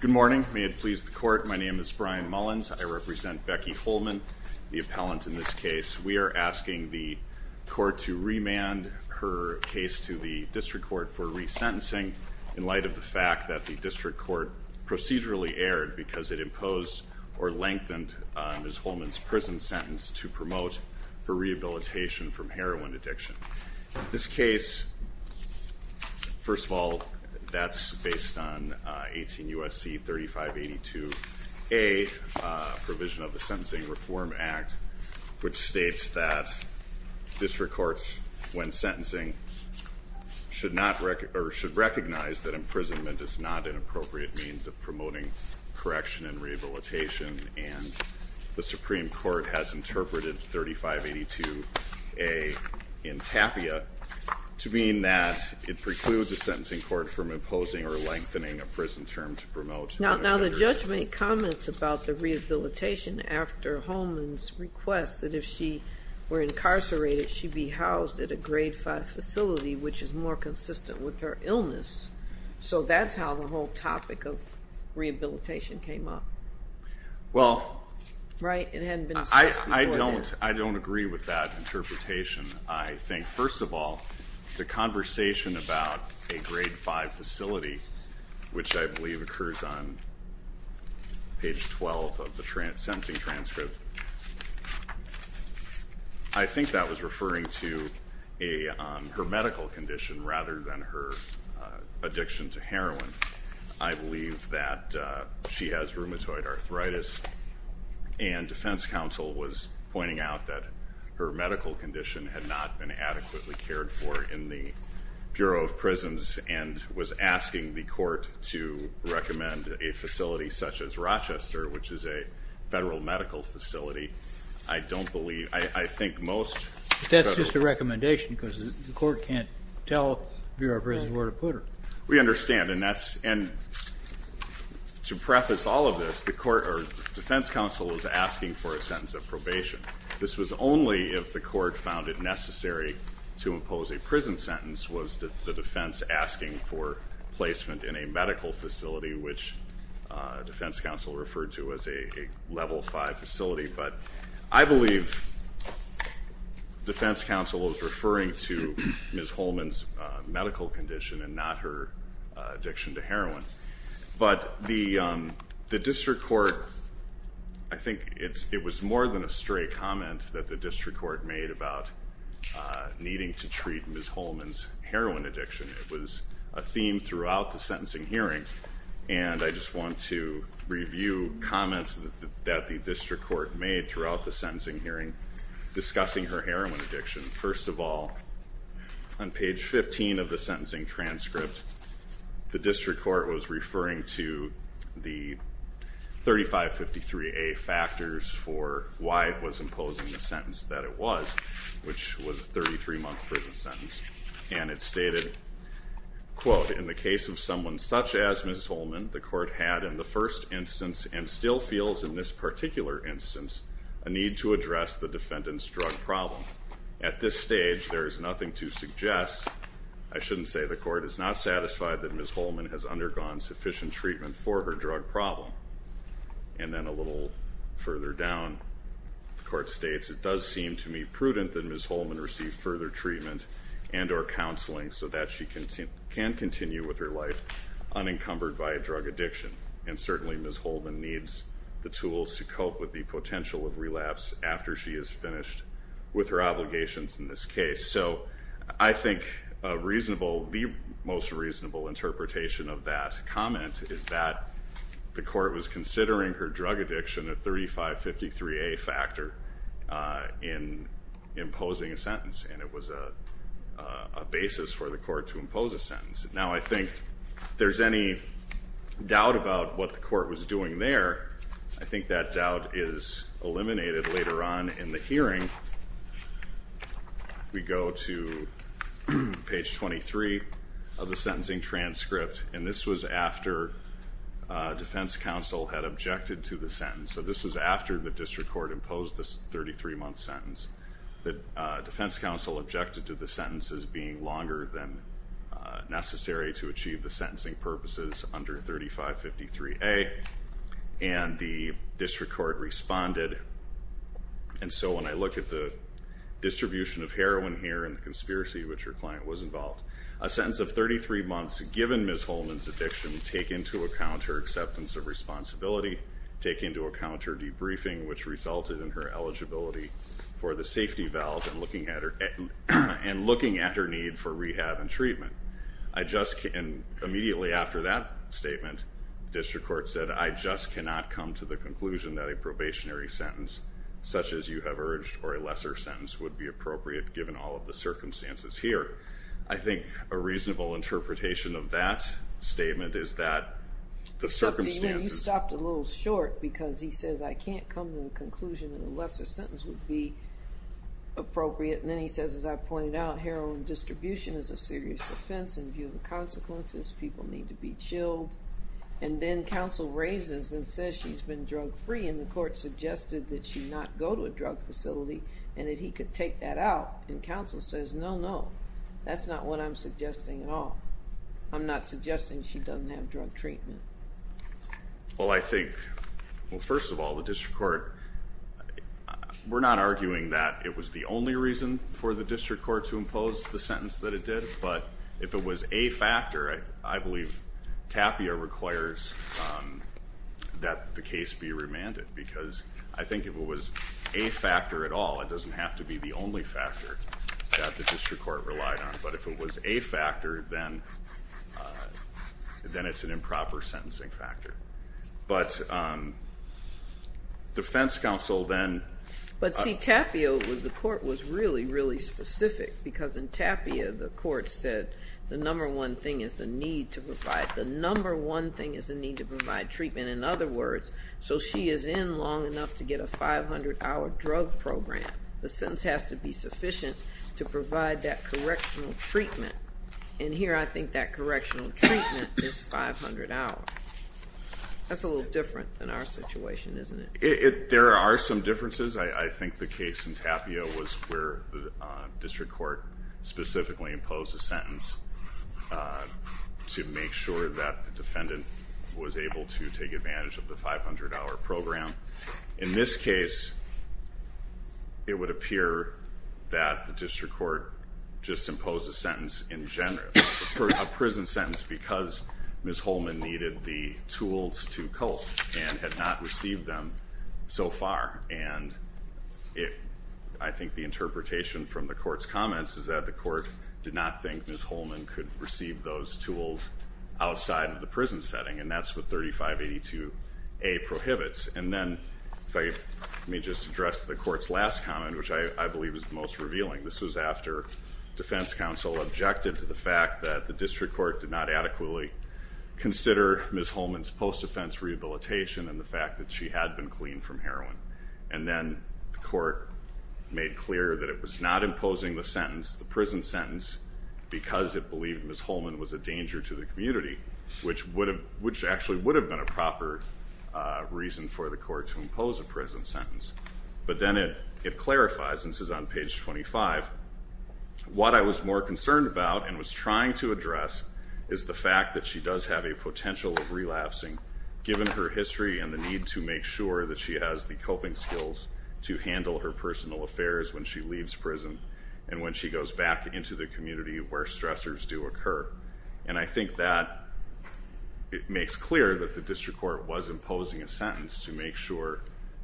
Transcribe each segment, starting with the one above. Good morning. May it please the court, my name is Brian Mullins. I represent Becky Holman, the appellant in this case. We are asking the court to remand her case to the district court for resentencing in light of the fact that the district court procedurally erred because it imposed or lengthened Ms. Holman's prison sentence to promote for rehabilitation from heroin addiction. This case, first of all, that's based on 18 U.S.C. 3582a provision of the Sentencing Reform Act, which states that district courts, when sentencing, should recognize that imprisonment is not an appropriate means of promoting correction and rehabilitation. And the Supreme Court has interpreted 3582a in TAPIA to mean that it precludes the sentencing court from imposing or lengthening a prison term to promote. Now, the judge made comments about the rehabilitation after Holman's request that if she were incarcerated, she'd be housed at a grade 5 facility, which is more consistent with her illness. So that's how the whole topic of rehabilitation came up. Well, I don't agree with that interpretation. I think, first of all, the conversation about a grade 5 facility, which I believe occurs on page 12 of the sentencing transcript, I think that was referring to her medical condition rather than her addiction to heroin. I believe that she has rheumatoid arthritis. And defense counsel was pointing out that her medical condition had not been adequately cared for in the Bureau of Prisons, and was asking the court to recommend a facility such as Rochester, which is a federal medical facility. I don't believe, I think most. That's just a recommendation, because the court can't tell the Bureau of Prisons where to put her. We understand. And to preface all of this, the defense counsel was asking for a sentence of probation. This was only if the court found it necessary to impose a prison sentence was the defense asking for placement in a medical facility, which defense counsel referred to as a level 5 facility. But I believe defense counsel was referring to Ms. Holman's medical condition and not her addiction to heroin. But the district court, I think it was more than a stray comment that the district court made about needing to treat Ms. Holman's heroin addiction. It was a theme throughout the sentencing hearing. And I just want to review comments that the district court made throughout the sentencing hearing discussing her heroin addiction. First of all, on page 15 of the sentencing transcript, the district court was referring to the 3553A factors for why it was imposing the sentence that it was, which was a 33-month prison sentence. And it stated, quote, in the case of someone such as Ms. Holman, the court had in the first instance and still feels in this particular instance a need to address the defendant's drug problem. At this stage, there is nothing to suggest. I shouldn't say the court is not satisfied that Ms. Holman has undergone sufficient treatment for her drug problem. And then a little further down, the court states it does seem to me prudent that Ms. Holman received further treatment and or counseling so that she can continue with her life unencumbered by a drug addiction. And certainly, Ms. Holman needs the tools to cope with the potential of relapse after she is finished with her obligations in this case. So I think the most reasonable interpretation of that comment is that the court was considering her drug addiction a 3553A factor in imposing a sentence. And it was a basis for the court to impose a sentence. Now, I think if there's any doubt about what the court was doing there, I think that doubt is eliminated later on in the hearing. We go to page 23 of the sentencing transcript. And this was after defense counsel had objected to the sentence. So this was after the district court imposed this 33-month sentence. The defense counsel objected to the sentences being longer than necessary to achieve the sentencing purposes under 3553A. And the district court responded. And so when I look at the distribution of heroin here and the conspiracy which her client was involved, a sentence of 33 months given Ms. Holman's addiction take into account her acceptance of responsibility, take into account her debriefing, which resulted in her eligibility for the safety valve and looking at her need for rehab and treatment. Immediately after that statement, district court said, I just cannot come to the conclusion that a probationary sentence, such as you have urged, or a lesser sentence would be appropriate given all of the circumstances here. I think a reasonable interpretation of that statement is that the circumstances. But then you stopped a little short because he says, I can't come to the conclusion that a lesser sentence would be appropriate. And then he says, as I pointed out, heroin distribution is a serious offense in view of the consequences. People need to be chilled. And then counsel raises and says she's been drug free. And the court suggested that she not go to a drug facility and that he could take that out. And counsel says, no, no. That's not what I'm suggesting at all. I'm not suggesting she doesn't have drug treatment. Well, I think, well, first of all, the district court, we're not arguing that it was the only reason for the district court to impose the sentence that it did. But if it was a factor, I believe Tapia requires that the case be remanded. Because I think if it was a factor at all, it doesn't have to be the only factor that the district court relied on. But if it was a factor, then it's an improper sentencing factor. But defense counsel then. But see, Tapia, the court was really, really specific. Because in Tapia, the court said the number one thing is the need to provide. The number one thing is the need to provide treatment. In other words, so she is in long enough to get a 500-hour drug program. The sentence has to be sufficient to provide that correctional treatment. And here, I think that correctional treatment is 500 hours. That's a little different than our situation, isn't it? There are some differences. I think the case in Tapia was where the district court specifically imposed a sentence to make sure that the defendant was able to take advantage of the 500-hour program. In this case, it would appear that the district court just imposed a sentence in general, a prison sentence, because Ms. Holman needed the tools to cope and had not received them so far. And I think the interpretation from the court's comments is that the court did not think Ms. Holman could receive those tools outside of the prison setting. And that's what 3582A prohibits. And then, let me just address the court's last comment, which I believe is the most revealing. This was after defense counsel objected to the fact that the district court did not adequately consider Ms. Holman's post-offense rehabilitation and the fact that she had been cleaned from heroin. And then, the court made clear that it was not imposing the sentence, the prison sentence, because it believed Ms. Holman was a danger to the community, which actually would have been a proper reason for the court to impose a prison sentence. But then it clarifies, and this is on page 25, what I was more concerned about and was trying to address is the fact that she does have a potential of relapsing, given her history and the need to make sure that she has the coping skills to handle her personal affairs when she leaves prison and when she goes back into the community where stressors do occur. And I think that it makes clear that the district court was imposing a sentence to make sure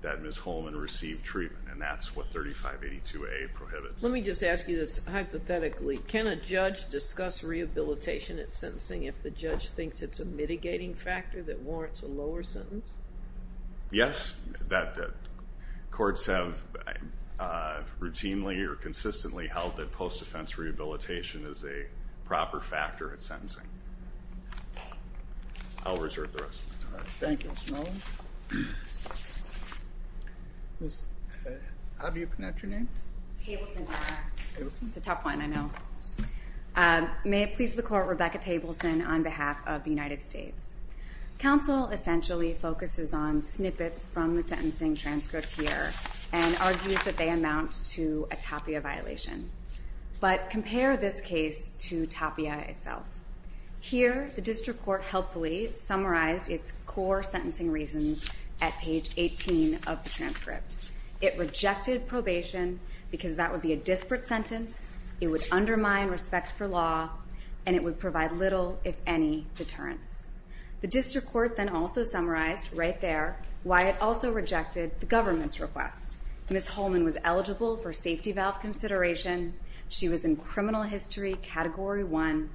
that Ms. Holman received treatment, and that's what 3582A prohibits. Let me just ask you this hypothetically. Can a judge discuss rehabilitation at sentencing if the judge thinks it's a mitigating factor that warrants a lower sentence? Yes. Courts have routinely or consistently held that post-offense rehabilitation is a proper factor at sentencing. I'll reserve the rest of the time. Thank you, Mr. Miller. How do you pronounce your name? Tableson. It's a tough one, I know. May it please the court, Rebecca Tableson on behalf of the United States. Counsel essentially focuses on snippets from the sentencing transcript here and argues that they amount to a Tapia violation. But compare this case to Tapia itself. Here, the district court helpfully summarized its core sentencing reasons at page 18 of the transcript. It rejected probation because that would be a disparate sentence, it would undermine respect for law, and it would provide little deterrence. The district court then also summarized right there why it also rejected the government's request. Ms. Holman was eligible for safety valve consideration. She was in criminal history category one.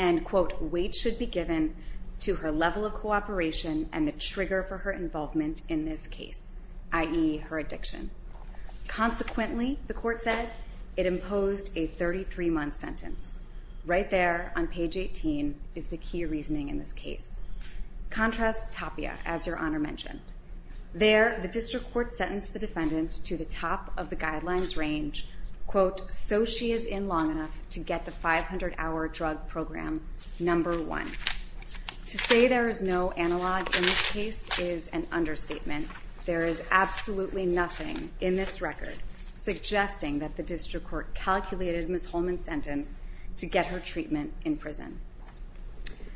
And quote, weight should be given to her level of cooperation and the trigger for her involvement in this case, i.e. her addiction. Consequently, the court said, it imposed a 33-month sentence. Right there on page 18 is the key reasoning in this case. Contrast Tapia, as your honor mentioned. There, the district court sentenced the defendant to the top of the guidelines range, quote, so she is in long enough to get the 500-hour drug program number one. To say there is no analog in this case is an understatement. There is absolutely nothing in this record suggesting that the district court calculated Ms. Holman's sentence to get her treatment in prison.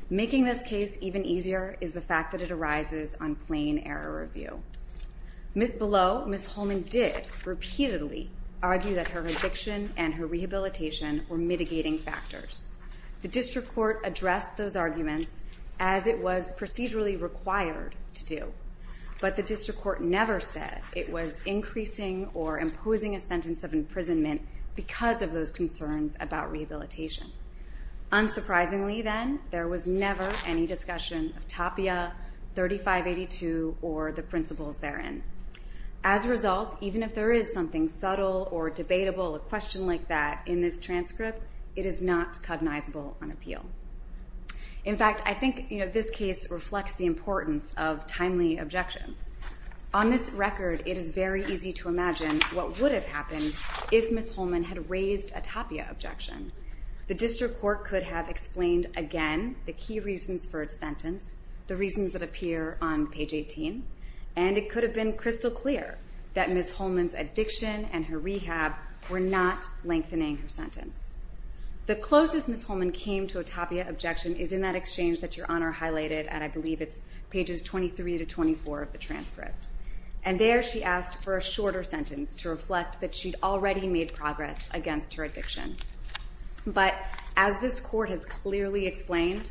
Making this case even easier is the fact that it arises on plain error review. Below, Ms. Holman did repeatedly argue that her addiction and her rehabilitation were mitigating factors. The district court addressed those arguments as it was procedurally required to do. But the district court never said it was increasing or imposing a sentence of imprisonment because of those concerns about rehabilitation. Unsurprisingly then, there was never any discussion of Tapia, 3582, or the principles therein. As a result, even if there is something subtle or debatable, a question like that in this transcript, it is not cognizable on appeal. In fact, I think this case reflects the importance of timely objections. On this record, it is very easy to imagine what would have happened if Ms. Holman had raised a Tapia objection. The district court could have explained, again, the key reasons for its sentence, the reasons that appear on page 18. And it could have been crystal clear that Ms. Holman's addiction and her rehab were not lengthening her sentence. The closest Ms. Holman came to a Tapia objection is in that exchange that Your Honor highlighted, and I believe it's pages 23 to 24 of the transcript. And there she asked for a shorter sentence to reflect that she'd already made progress against her addiction. But as this court has clearly explained,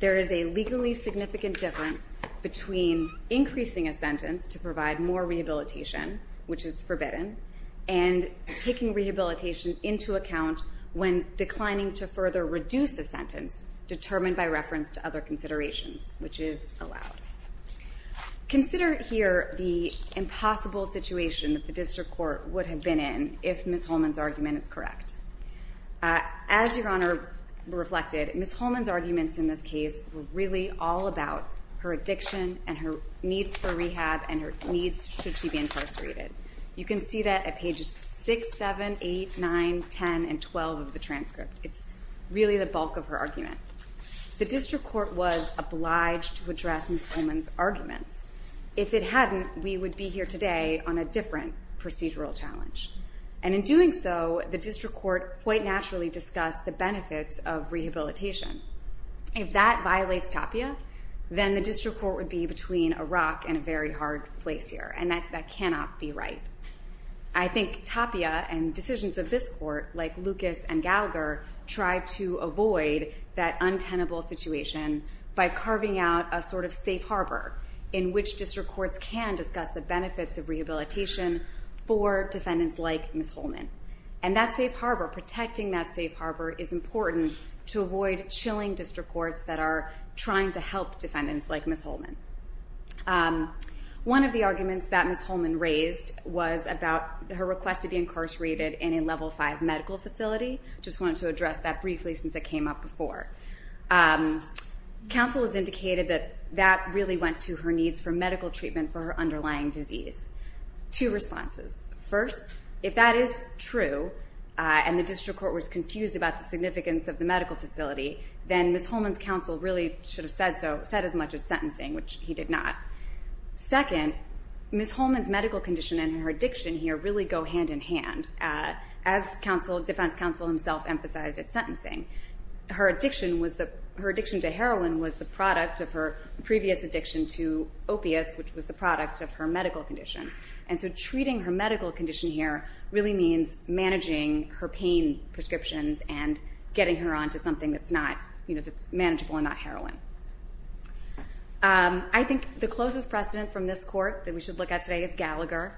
there is a legally significant difference between increasing a sentence to provide more rehabilitation, which is forbidden, and taking rehabilitation into account when declining to further reduce a sentence determined by reference to other considerations, which is allowed. Consider here the impossible situation that the district court would have been in if Ms. Holman's argument is correct. As Your Honor reflected, Ms. Holman's arguments in this case were really all about her addiction and her needs for rehab and her needs should she be incarcerated. You can see that at pages 6, 7, 8, 9, 10, and 12 of the transcript. It's really the bulk of her argument. The district court was obliged to address Ms. Holman's arguments. If it hadn't, we would be here today on a different procedural challenge. And in doing so, the district court quite naturally discussed the benefits of rehabilitation. If that violates TAPIA, then the district court would be between a rock and a very hard place here, and that cannot be right. I think TAPIA and decisions of this court, like Lucas and Gallagher, tried to avoid that untenable situation by carving out a sort of safe harbor in which district courts can discuss the benefits of rehabilitation for defendants like Ms. Holman. And that safe harbor, protecting that safe harbor, is important to avoid chilling district courts that are trying to help defendants like Ms. Holman. One of the arguments that Ms. Holman raised was about her request to be incarcerated in a level five medical facility. Just wanted to address that briefly since it came up before. Counsel has indicated that that really went to her needs for medical treatment for her underlying disease. Two responses. First, if that is true, and the district court was confused about the significance of the medical facility, then Ms. Holman's counsel really should have said so, said as much as sentencing, which he did not. Second, Ms. Holman's medical condition and her addiction here really go hand in hand. As defense counsel himself emphasized at sentencing, her addiction to heroin was the product of her previous addiction to opiates, which was the product of her medical condition. And so treating her medical condition here really means managing her pain prescriptions and getting her onto something that's manageable and not heroin. I think the closest precedent from this court that we should look at today is Gallagher.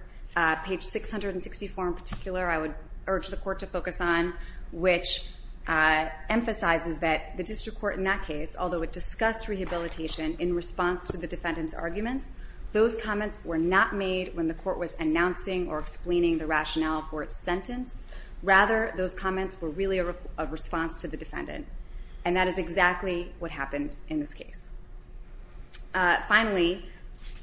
Page 664, in particular, I would urge the court to focus on, which emphasizes that the district court in that case, although it discussed rehabilitation in response to the defendant's arguments, those comments were not made when the court was announcing or explaining the rationale for its sentence. Rather, those comments were really a response to the defendant. And that is exactly what happened in this case. Finally,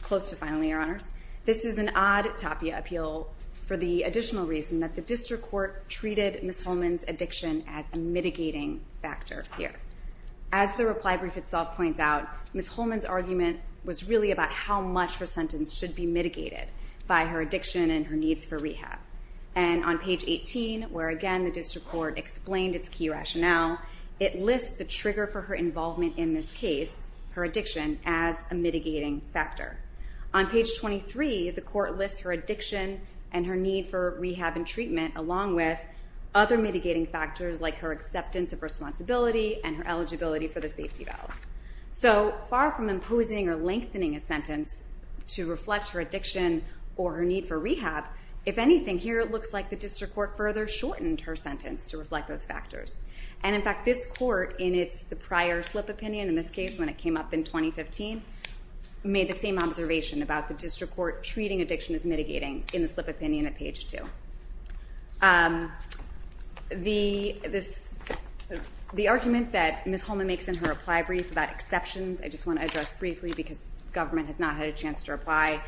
close to finally, Your Honors, this is an odd tapia appeal for the additional reason that the district court treated Ms. Holman's addiction as a mitigating factor here. As the reply brief itself points out, Ms. Holman's argument was really about how much her sentence should be mitigated by her addiction and her needs for rehab. And on page 18, where again the district court explained its key rationale, it lists the trigger for her involvement in this case, her addiction, as a mitigating factor. On page 23, the court lists her addiction and her need for rehab and treatment, along with other mitigating factors like her acceptance of responsibility and her eligibility for the safety valve. So far from imposing or lengthening a sentence to reflect her addiction or her need for rehab, if anything, here it looks like the district court further shortened her sentence to reflect those factors. And in fact, this court in its prior slip opinion in this case, when it came up in 2015, made the same observation about the district court treating addiction as mitigating in the slip opinion at page 2. The argument that Ms. Holman makes in her reply brief about exceptions, I just want to address briefly because government has not had a chance to reply,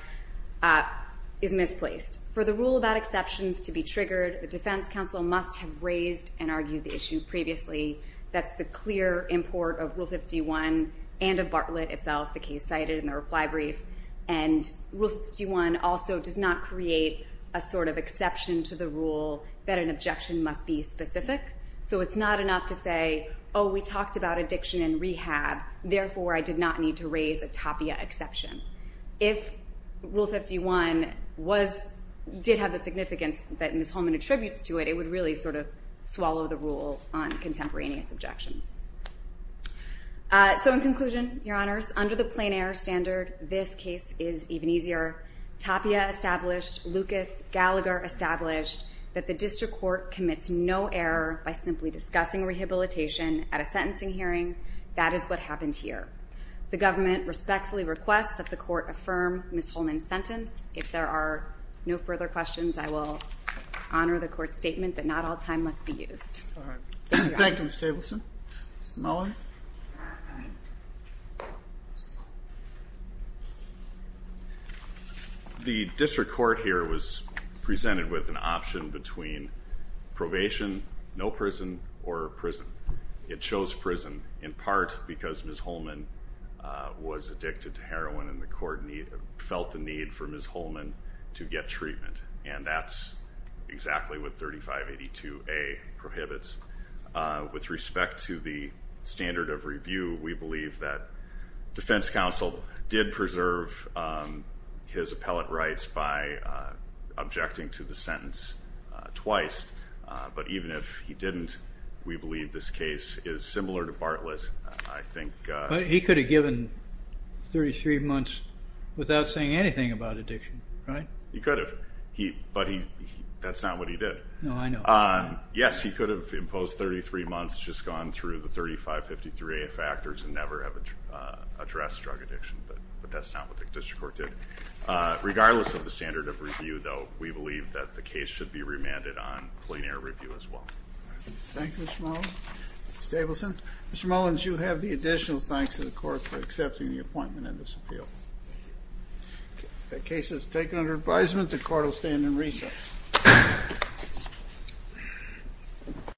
is misplaced. For the rule about exceptions to be triggered, the defense counsel must have raised and argued the issue previously. That's the clear import of Rule 51 and of Bartlett itself, the case cited in the reply brief. And Rule 51 also does not create a sort of exception to the rule that an objection must be specific. So it's not enough to say, oh, we talked about addiction and rehab. Therefore, I did not need to raise a TAPIA exception. If Rule 51 did have the significance that Ms. Holman attributes to it, it would really sort of swallow the rule on contemporaneous objections. So in conclusion, Your Honors, under the plain error standard, this case is even easier. TAPIA established, Lucas Gallagher established, that the district court commits no error by simply discussing rehabilitation at a sentencing hearing. That is what happened here. The government respectfully requests that the court affirm Ms. Holman's sentence. If there are no further questions, I will honor the court's statement that not all time must be used. Thank you, Ms. Stabelson. Mr. Miller. The district court here was presented with an option between probation, no prison, or prison. It chose prison in part because Ms. Holman was addicted to heroin and the court felt the need for Ms. Holman to get treatment. And that's exactly what 3582A prohibits. With respect to the standard of review, we believe that defense counsel did preserve his appellate rights by objecting to the sentence twice. But even if he didn't, we believe this case is similar to Bartlett. I think. But he could have given 33 months without saying anything about addiction, right? He could have. But that's not what he did. No, I know. Yes, he could have imposed 33 months, just gone through the 3553A factors and never have addressed drug addiction. But that's not what the district court did. Regardless of the standard of review, though, we believe that the case should be remanded on plenary review as well. Thank you, Mr. Mullins. Ms. Stabelson. Mr. Mullins, you have the additional thanks to the court for accepting the appointment in this appeal. The case is taken under advisement. The court will stand in recess. Thank you.